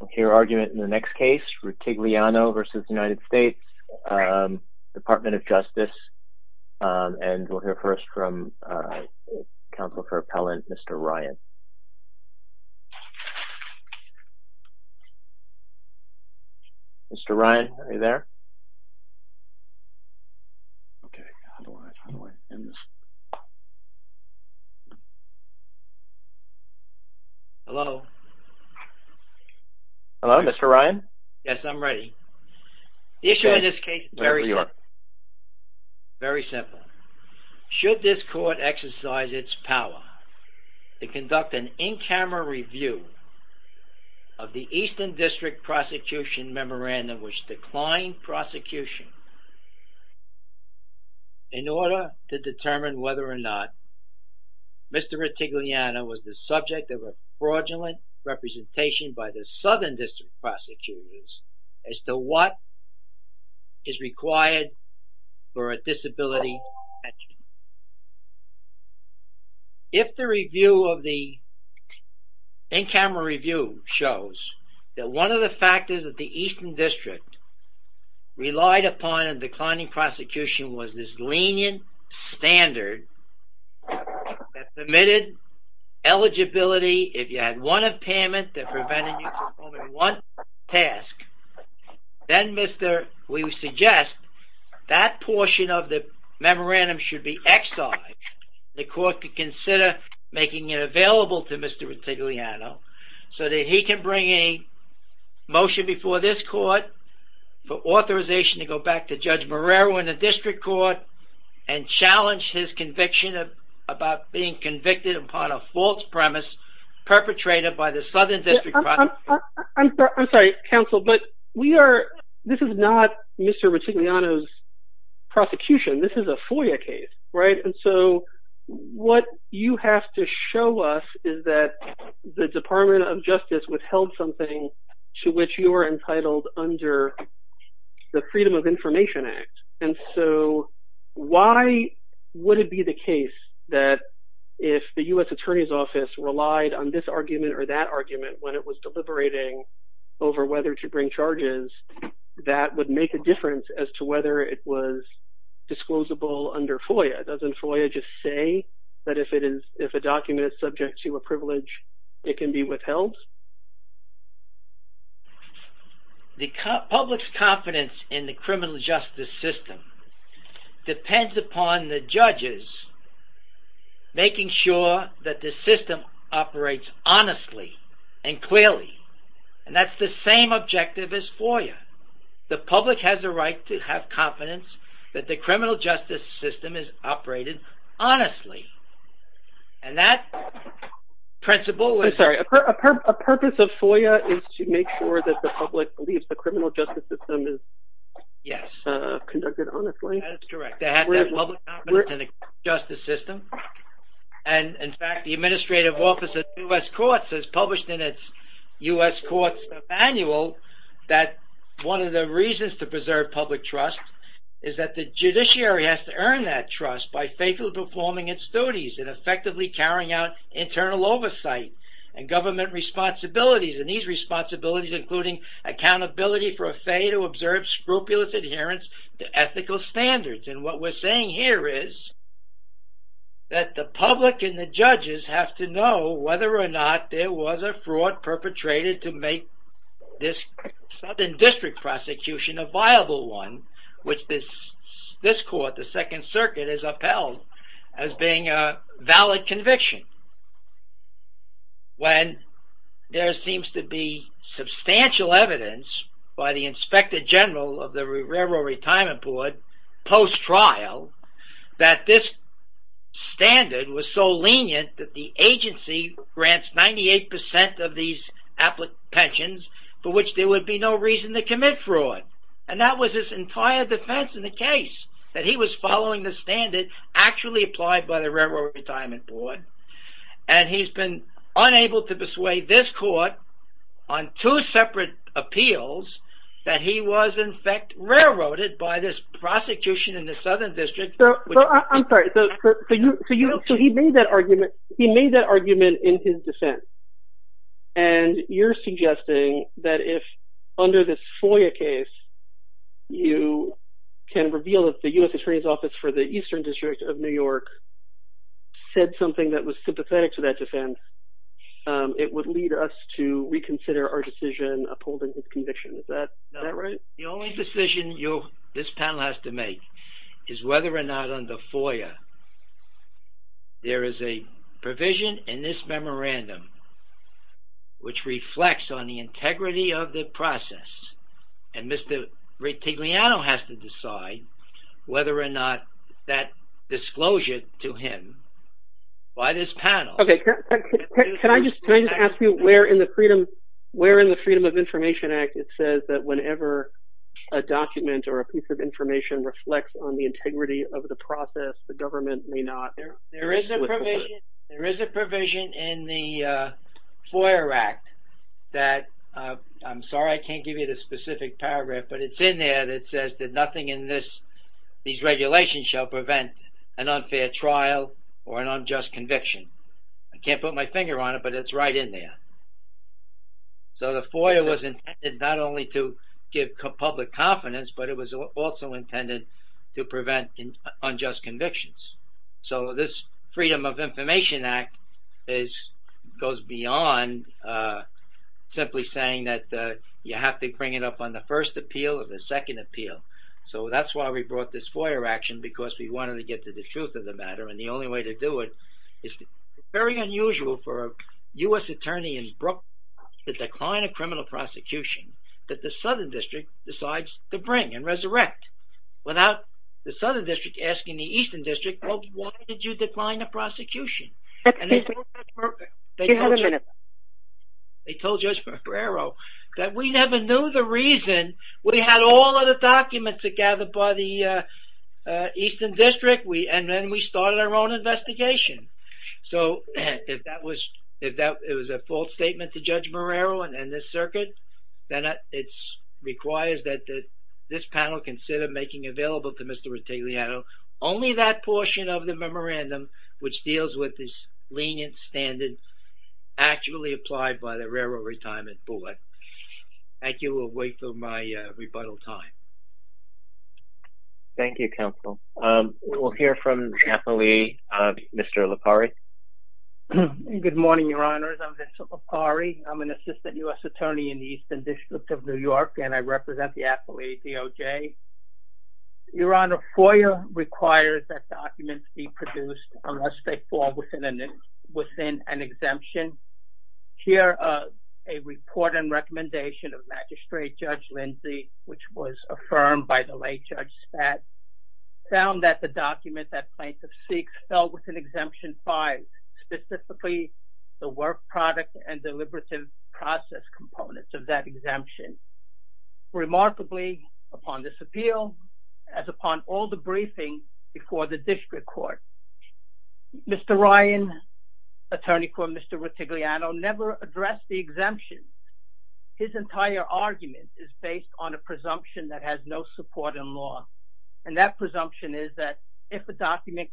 We'll hear argument in the next case, Ritigliano v. United States Department of Justice. And we'll hear first from counsel for appellant, Mr. Ryan. Mr. Ryan, are you there? Hello. Hello, Mr. Ryan? Yes, I'm ready. The issue in this case is very simple. Very simple. Should this court exercise its power to conduct an in-camera review of the Eastern District Prosecution Memorandum, which declined prosecution, in order to determine whether or not Mr. Ritigliano was the subject of a fraudulent representation by the Southern District Prosecutors as to what is required for a disability. If the review of the in-camera review shows that one of the factors that the Eastern District relied upon in declining prosecution was this lenient standard that submitted eligibility. If you had one impairment that prevented you from performing one task, then we suggest that portion of the memorandum should be exiled. The court could consider making it available to Mr. Ritigliano so that he can bring a motion before this court for authorization to go back to Judge Marrero in the district court and challenge his conviction about being convicted upon a false premise perpetrated by the Southern District Prosecutors. I'm sorry, counsel, but this is not Mr. Ritigliano's prosecution. This is a FOIA case. And so what you have to show us is that the Department of Justice withheld something to which you are entitled under the Freedom of Information Act. And so why would it be the case that if the U.S. Attorney's Office relied on this argument or that argument when it was deliberating over whether to bring charges, that would make a difference as to whether it was disclosable under FOIA? Doesn't FOIA just say that if a document is subject to a privilege, it can be withheld? The public's confidence in the criminal justice system depends upon the judges making sure that the system operates honestly and clearly. And that's the same objective as FOIA. The public has a right to have confidence that the criminal justice system is operated honestly. I'm sorry, a purpose of FOIA is to make sure that the public believes the criminal justice system is conducted honestly? Yes, that is correct. To have that public confidence in the criminal justice system. And in fact, the Administrative Office of the U.S. Courts has published in its U.S. Courts Manual that one of the reasons to preserve public trust is that the judiciary has to earn that trust by faithfully performing its duties. And effectively carrying out internal oversight and government responsibilities. And these responsibilities including accountability for a fay to observe scrupulous adherence to ethical standards. And what we're saying here is that the public and the judges have to know whether or not there was a fraud perpetrated to make this Southern District prosecution a viable one. Which this court, the Second Circuit, has upheld as being a valid conviction. When there seems to be substantial evidence by the Inspector General of the Railroad Retirement Board post-trial that this standard was so lenient that the agency grants 98% of these applications for which there would be no reason to commit fraud. And that was his entire defense in the case. That he was following the standard actually applied by the Railroad Retirement Board. And he's been unable to persuade this court on two separate appeals that he was in fact railroaded by this prosecution in the Southern District. So he made that argument in his defense. And you're suggesting that if under this FOIA case you can reveal that the U.S. Attorney's Office for the Eastern District of New York said something that was sympathetic to that defense, it would lead us to reconsider our decision upholding his conviction. Is that right? The only decision this panel has to make is whether or not under FOIA there is a provision in this memorandum which reflects on the integrity of the process. And Mr. Rettigliano has to decide whether or not that disclosure to him by this panel... Can I just ask you where in the Freedom of Information Act it says that whenever a document or a piece of information reflects on the integrity of the process, the government may not... There is a provision in the FOIA Act that, I'm sorry I can't give you the specific paragraph, but it's in there that says that nothing in these regulations shall prevent an unfair trial or an unjust conviction. I can't put my finger on it, but it's right in there. So the FOIA was intended not only to give public confidence, but it was also intended to prevent unjust convictions. So this Freedom of Information Act goes beyond simply saying that you have to bring it up on the first appeal or the second appeal. So that's why we brought this FOIA action, because we wanted to get to the truth of the matter. And the only way to do it is very unusual for a U.S. attorney in Brooklyn to decline a criminal prosecution that the Southern District decides to bring and resurrect. Without the Southern District asking the Eastern District, well, why did you decline the prosecution? They told Judge Marrero that we never knew the reason. We had all of the documents gathered by the Eastern District, and then we started our own investigation. So if that was a false statement to Judge Marrero and this circuit, then it requires that this panel consider making available to Mr. Rotigliano only that portion of the memorandum, which deals with the lenient standards actually applied by the railroad retirement board. Thank you. We'll wait for my rebuttal time. Thank you, counsel. We'll hear from the appellee, Mr. LaPari. Good morning, Your Honors. I'm Mr. LaPari. I'm an assistant U.S. attorney in the Eastern District of New York, and I represent the appellee, DOJ. Your Honor, FOIA requires that documents be produced unless they fall within an exemption. Here, a report and recommendation of Magistrate Judge Lindsey, which was affirmed by the late Judge Spatz, found that the document that Plaintiff seeks fell within Exemption 5, specifically the work product and deliberative process components of that exemption. Remarkably, upon this appeal, as upon all the briefing before the district court, Mr. Ryan, attorney for Mr. Rotigliano, never addressed the exemption. His entire argument is based on a presumption that has no support in law. And that presumption is that if a document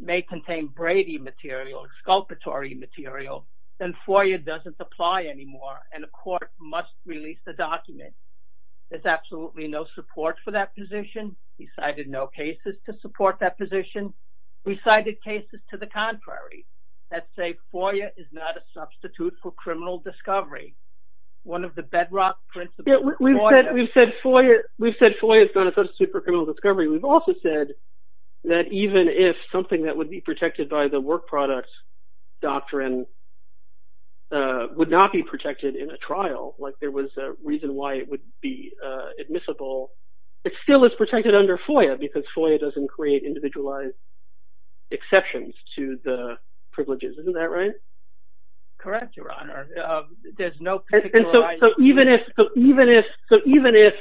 may contain Brady material, sculptatory material, then FOIA doesn't apply anymore, and a court must release the document. There's absolutely no support for that position. We cited no cases to support that position. We cited cases to the contrary that say FOIA is not a substitute for criminal discovery. One of the bedrock principles of FOIA. We've said FOIA is not a substitute for criminal discovery. We've also said that even if something that would be protected by the work product doctrine would not be protected in a trial, like there was a reason why it would be admissible, it still is protected under FOIA because FOIA doesn't create individualized exceptions to the privileges. Isn't that right? Correct, Your Honor. There's no particular… So even if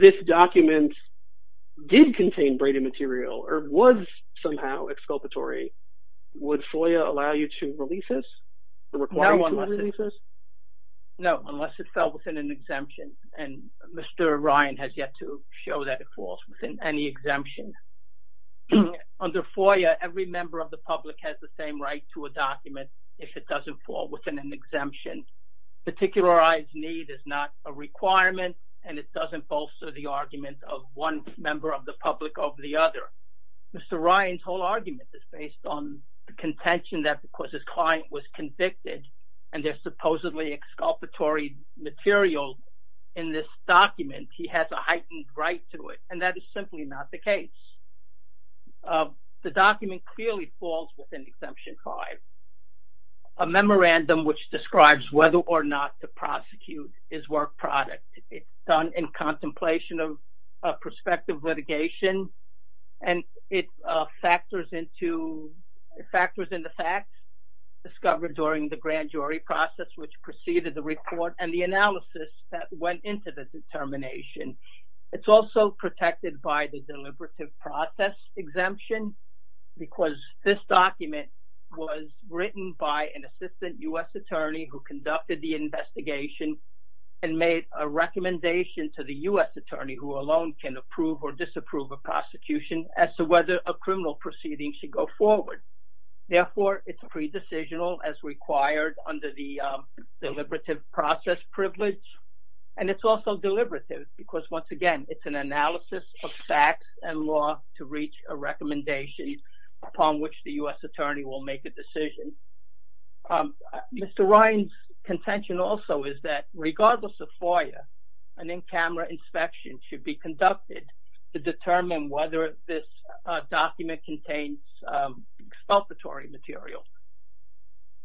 this document did contain Brady material or was somehow exculpatory, would FOIA allow you to release this? No, unless it fell within an exemption, and Mr. Ryan has yet to show that it falls within any exemption. Under FOIA, every member of the public has the same right to a document if it doesn't fall within an exemption. Particularized need is not a requirement, and it doesn't bolster the argument of one member of the public over the other. Mr. Ryan's whole argument is based on the contention that because his client was convicted and there's supposedly exculpatory material in this document, he has a heightened right to it, and that is simply not the case. The document clearly falls within Exemption 5. A memorandum which describes whether or not to prosecute is work product. It's done in contemplation of prospective litigation, and it factors into facts discovered during the grand jury process which preceded the report and the analysis that went into the determination. It's also protected by the deliberative process exemption because this document was written by an assistant U.S. attorney who conducted the investigation and made a recommendation to the U.S. attorney who alone can approve or disapprove a prosecution as to whether a criminal proceeding should go forward. Therefore, it's pre-decisional as required under the deliberative process privilege, and it's also deliberative because, once again, it's an analysis of facts and law to reach a recommendation upon which the U.S. attorney will make a decision. Mr. Ryan's contention also is that, regardless of FOIA, an in-camera inspection should be conducted to determine whether this document contains exculpatory material.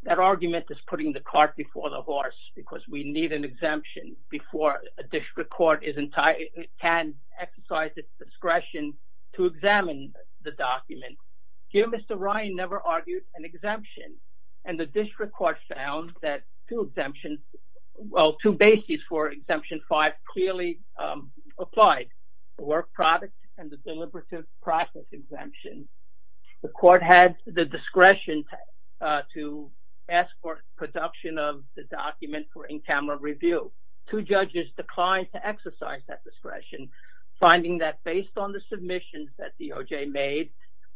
That argument is putting the cart before the horse because we need an exemption before a district court can exercise its discretion to examine the document. Here, Mr. Ryan never argued an exemption, and the district court found that two exemptions, well, two bases for Exemption 5 clearly applied, the work product and the deliberative process exemption. The court had the discretion to ask for production of the document for in-camera review. Two judges declined to exercise that discretion, finding that, based on the submissions that DOJ made,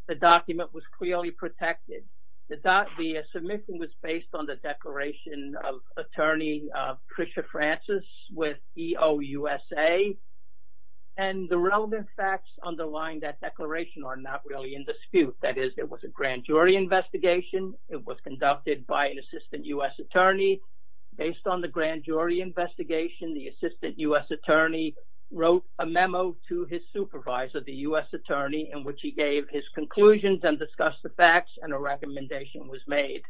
the document was clearly protected. The submission was based on the declaration of attorney Tricia Francis with EOUSA, and the relevant facts underlying that declaration are not really in dispute. That is, it was a grand jury investigation. It was conducted by an assistant U.S. attorney. Based on the grand jury investigation, the assistant U.S. attorney wrote a memo to his supervisor, the U.S. attorney, in which he gave his conclusions and discussed the facts, and a recommendation was made.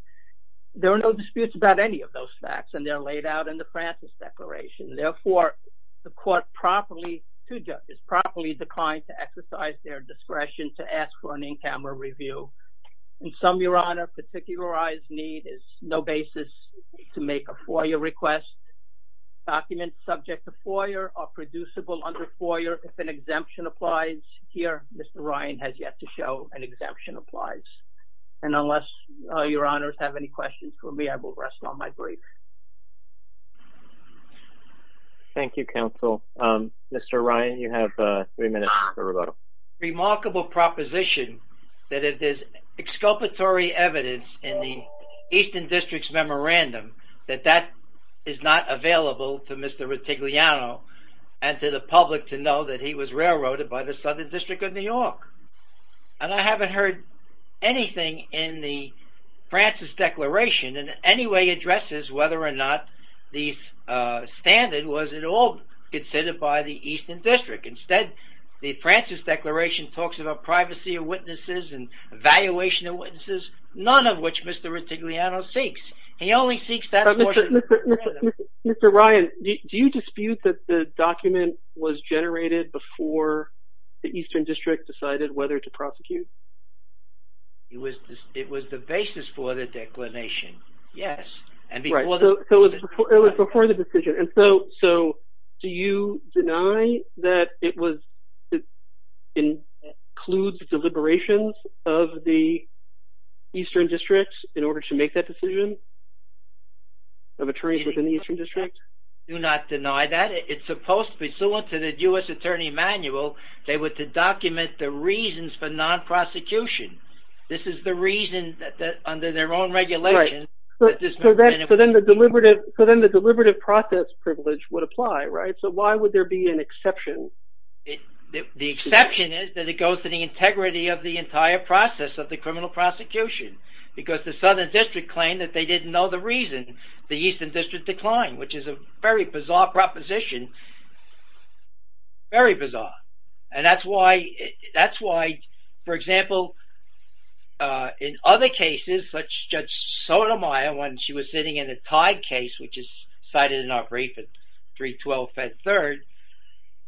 There are no disputes about any of those facts, and they're laid out in the Francis Declaration. Therefore, the court properly, two judges, properly declined to exercise their discretion to ask for an in-camera review. In sum, Your Honor, particularized need is no basis to make a FOIA request. Documents subject to FOIA are producible under FOIA if an exemption applies. Here, Mr. Ryan has yet to show an exemption applies. And unless Your Honors have any questions for me, I will rest on my brief. Thank you, counsel. Mr. Ryan, you have three minutes for rebuttal. Remarkable proposition that if there's exculpatory evidence in the Eastern District's memorandum, that that is not available to Mr. Rotigliano and to the public to know that he was railroaded by the Southern District of New York. And I haven't heard anything in the Francis Declaration in any way addresses whether or not the standard was at all considered by the Eastern District. Instead, the Francis Declaration talks about privacy of witnesses and evaluation of witnesses, none of which Mr. Rotigliano seeks. Mr. Ryan, do you dispute that the document was generated before the Eastern District decided whether to prosecute? It was the basis for the declination, yes. Right, so it was before the decision. And so, do you deny that it includes deliberations of the Eastern District in order to make that decision of attorneys within the Eastern District? I do not deny that. It's supposed to be, so in the U.S. Attorney Manual, they were to document the reasons for non-prosecution. This is the reason that under their own regulation. So then the deliberative process privilege would apply, right? So why would there be an exception? The exception is that it goes to the integrity of the entire process of the criminal prosecution. Because the Southern District claimed that they didn't know the reason the Eastern District declined, which is a very bizarre proposition, very bizarre. And that's why, that's why, for example, in other cases, such Judge Sotomayor, when she was sitting in a tied case, which is cited in our brief at 312 Fed Third,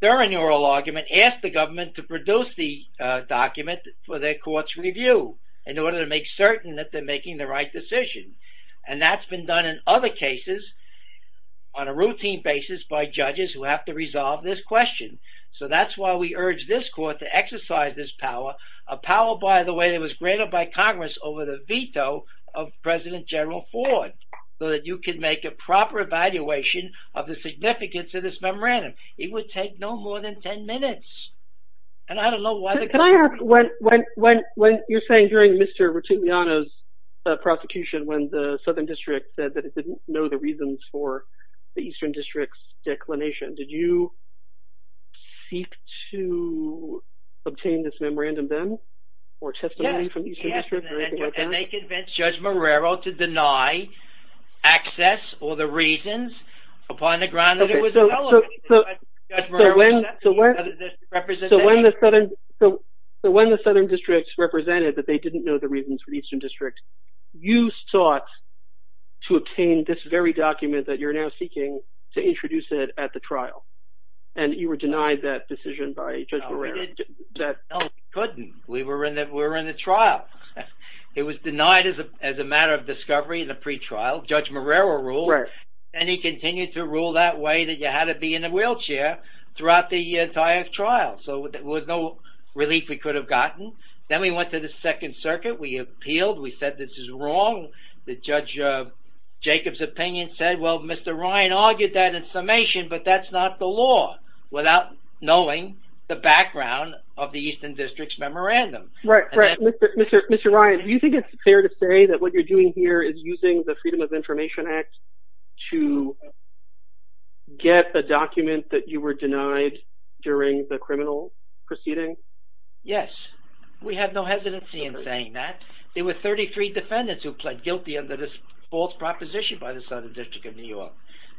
during the oral argument, asked the government to produce the document for their court's review, in order to make certain that they're making the right decision. And that's been done in other cases on a routine basis by judges who have to resolve this question. So that's why we urge this court to exercise this power, a power, by the way, that was granted by Congress over the veto of President General Ford, so that you can make a proper evaluation of the significance of this memorandum. It would take no more than 10 minutes. Can I ask, when you're saying during Mr. Rotigliano's prosecution, when the Southern District said that it didn't know the reasons for the Eastern District's declination, did you seek to obtain this memorandum then, or testimony from the Eastern District, or anything like that? Yes, and they convinced Judge Marrero to deny access or the reasons upon the grounds that it was relevant. So when the Southern District represented that they didn't know the reasons for the Eastern District, you sought to obtain this very document that you're now seeking to introduce it at the trial, and you were denied that decision by Judge Marrero. No, we couldn't. We were in the trial. It was denied as a matter of discovery in the pretrial. Judge Marrero ruled, and he continued to rule that way, that you had to be in a wheelchair throughout the entire trial. So there was no relief we could have gotten. Then we went to the Second Circuit. We appealed. We said this is wrong. Judge Jacob's opinion said, well, Mr. Ryan argued that in summation, but that's not the law, without knowing the background of the Eastern District's memorandum. Mr. Ryan, do you think it's fair to say that what you're doing here is using the Freedom of Information Act to get the document that you were denied during the criminal proceeding? Yes. We have no hesitancy in saying that. There were 33 defendants who pled guilty under this false proposition by the Southern District of New York.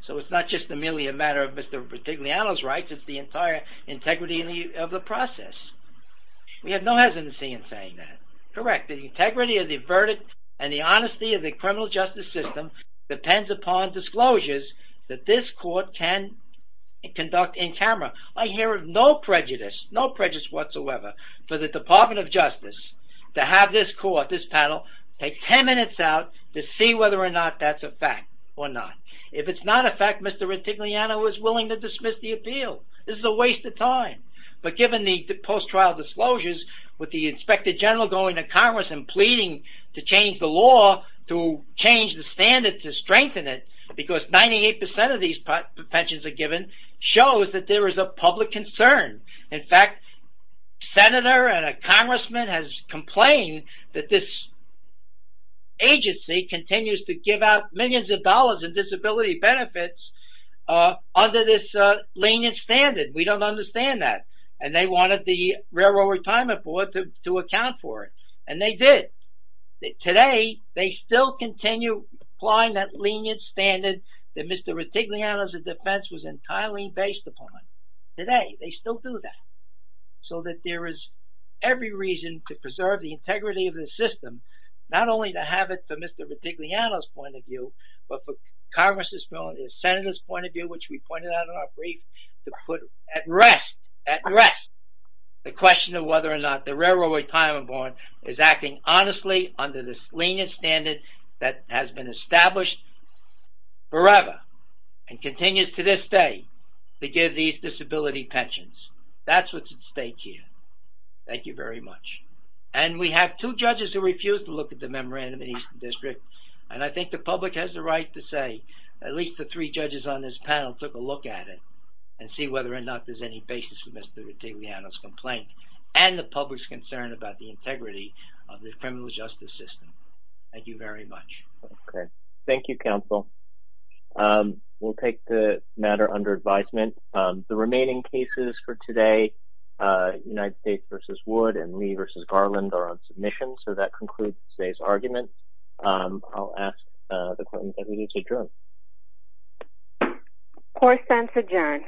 So it's not just merely a matter of Mr. Bertigliano's rights. It's the entire integrity of the process. We have no hesitancy in saying that. Correct. The integrity of the verdict and the honesty of the criminal justice system depends upon disclosures that this court can conduct in camera. I hear of no prejudice, no prejudice whatsoever, for the Department of Justice to have this court, this panel, take 10 minutes out to see whether or not that's a fact or not. If it's not a fact, Mr. Bertigliano is willing to dismiss the appeal. This is a waste of time. But given the post-trial disclosures, with the Inspector General going to Congress and pleading to change the law, to change the standards, to strengthen it, because 98% of these petitions are given, shows that there is a public concern. In fact, Senator and a Congressman has complained that this agency continues to give out millions of dollars in disability benefits under this lenient standard. We don't understand that. And they wanted the Railroad Retirement Board to account for it. And they did. Today, they still continue applying that lenient standard that Mr. Bertigliano's defense was entirely based upon. Today, they still do that. So that there is every reason to preserve the integrity of this system, not only to have it to Mr. Bertigliano's point of view, but for Congress' point of view, Senator's point of view, which we pointed out in our brief, to put at rest, at rest, the question of whether or not the Railroad Retirement Board is acting honestly under this lenient standard that has been established forever and continues to this day to give these disability pensions. That's what's at stake here. Thank you very much. And we have two judges who refuse to look at the Memorandum of the Eastern District. And I think the public has the right to say, at least the three judges on this panel took a look at it and see whether or not there's any basis for Mr. Bertigliano's complaint. And the public's concern about the integrity of the criminal justice system. Thank you very much. Okay. Thank you, counsel. We'll take the matter under advisement. The remaining cases for today, United States v. Wood and Lee v. Garland, are on submission. So that concludes today's argument. I'll ask the court and the deputy to adjourn. Court stands adjourned.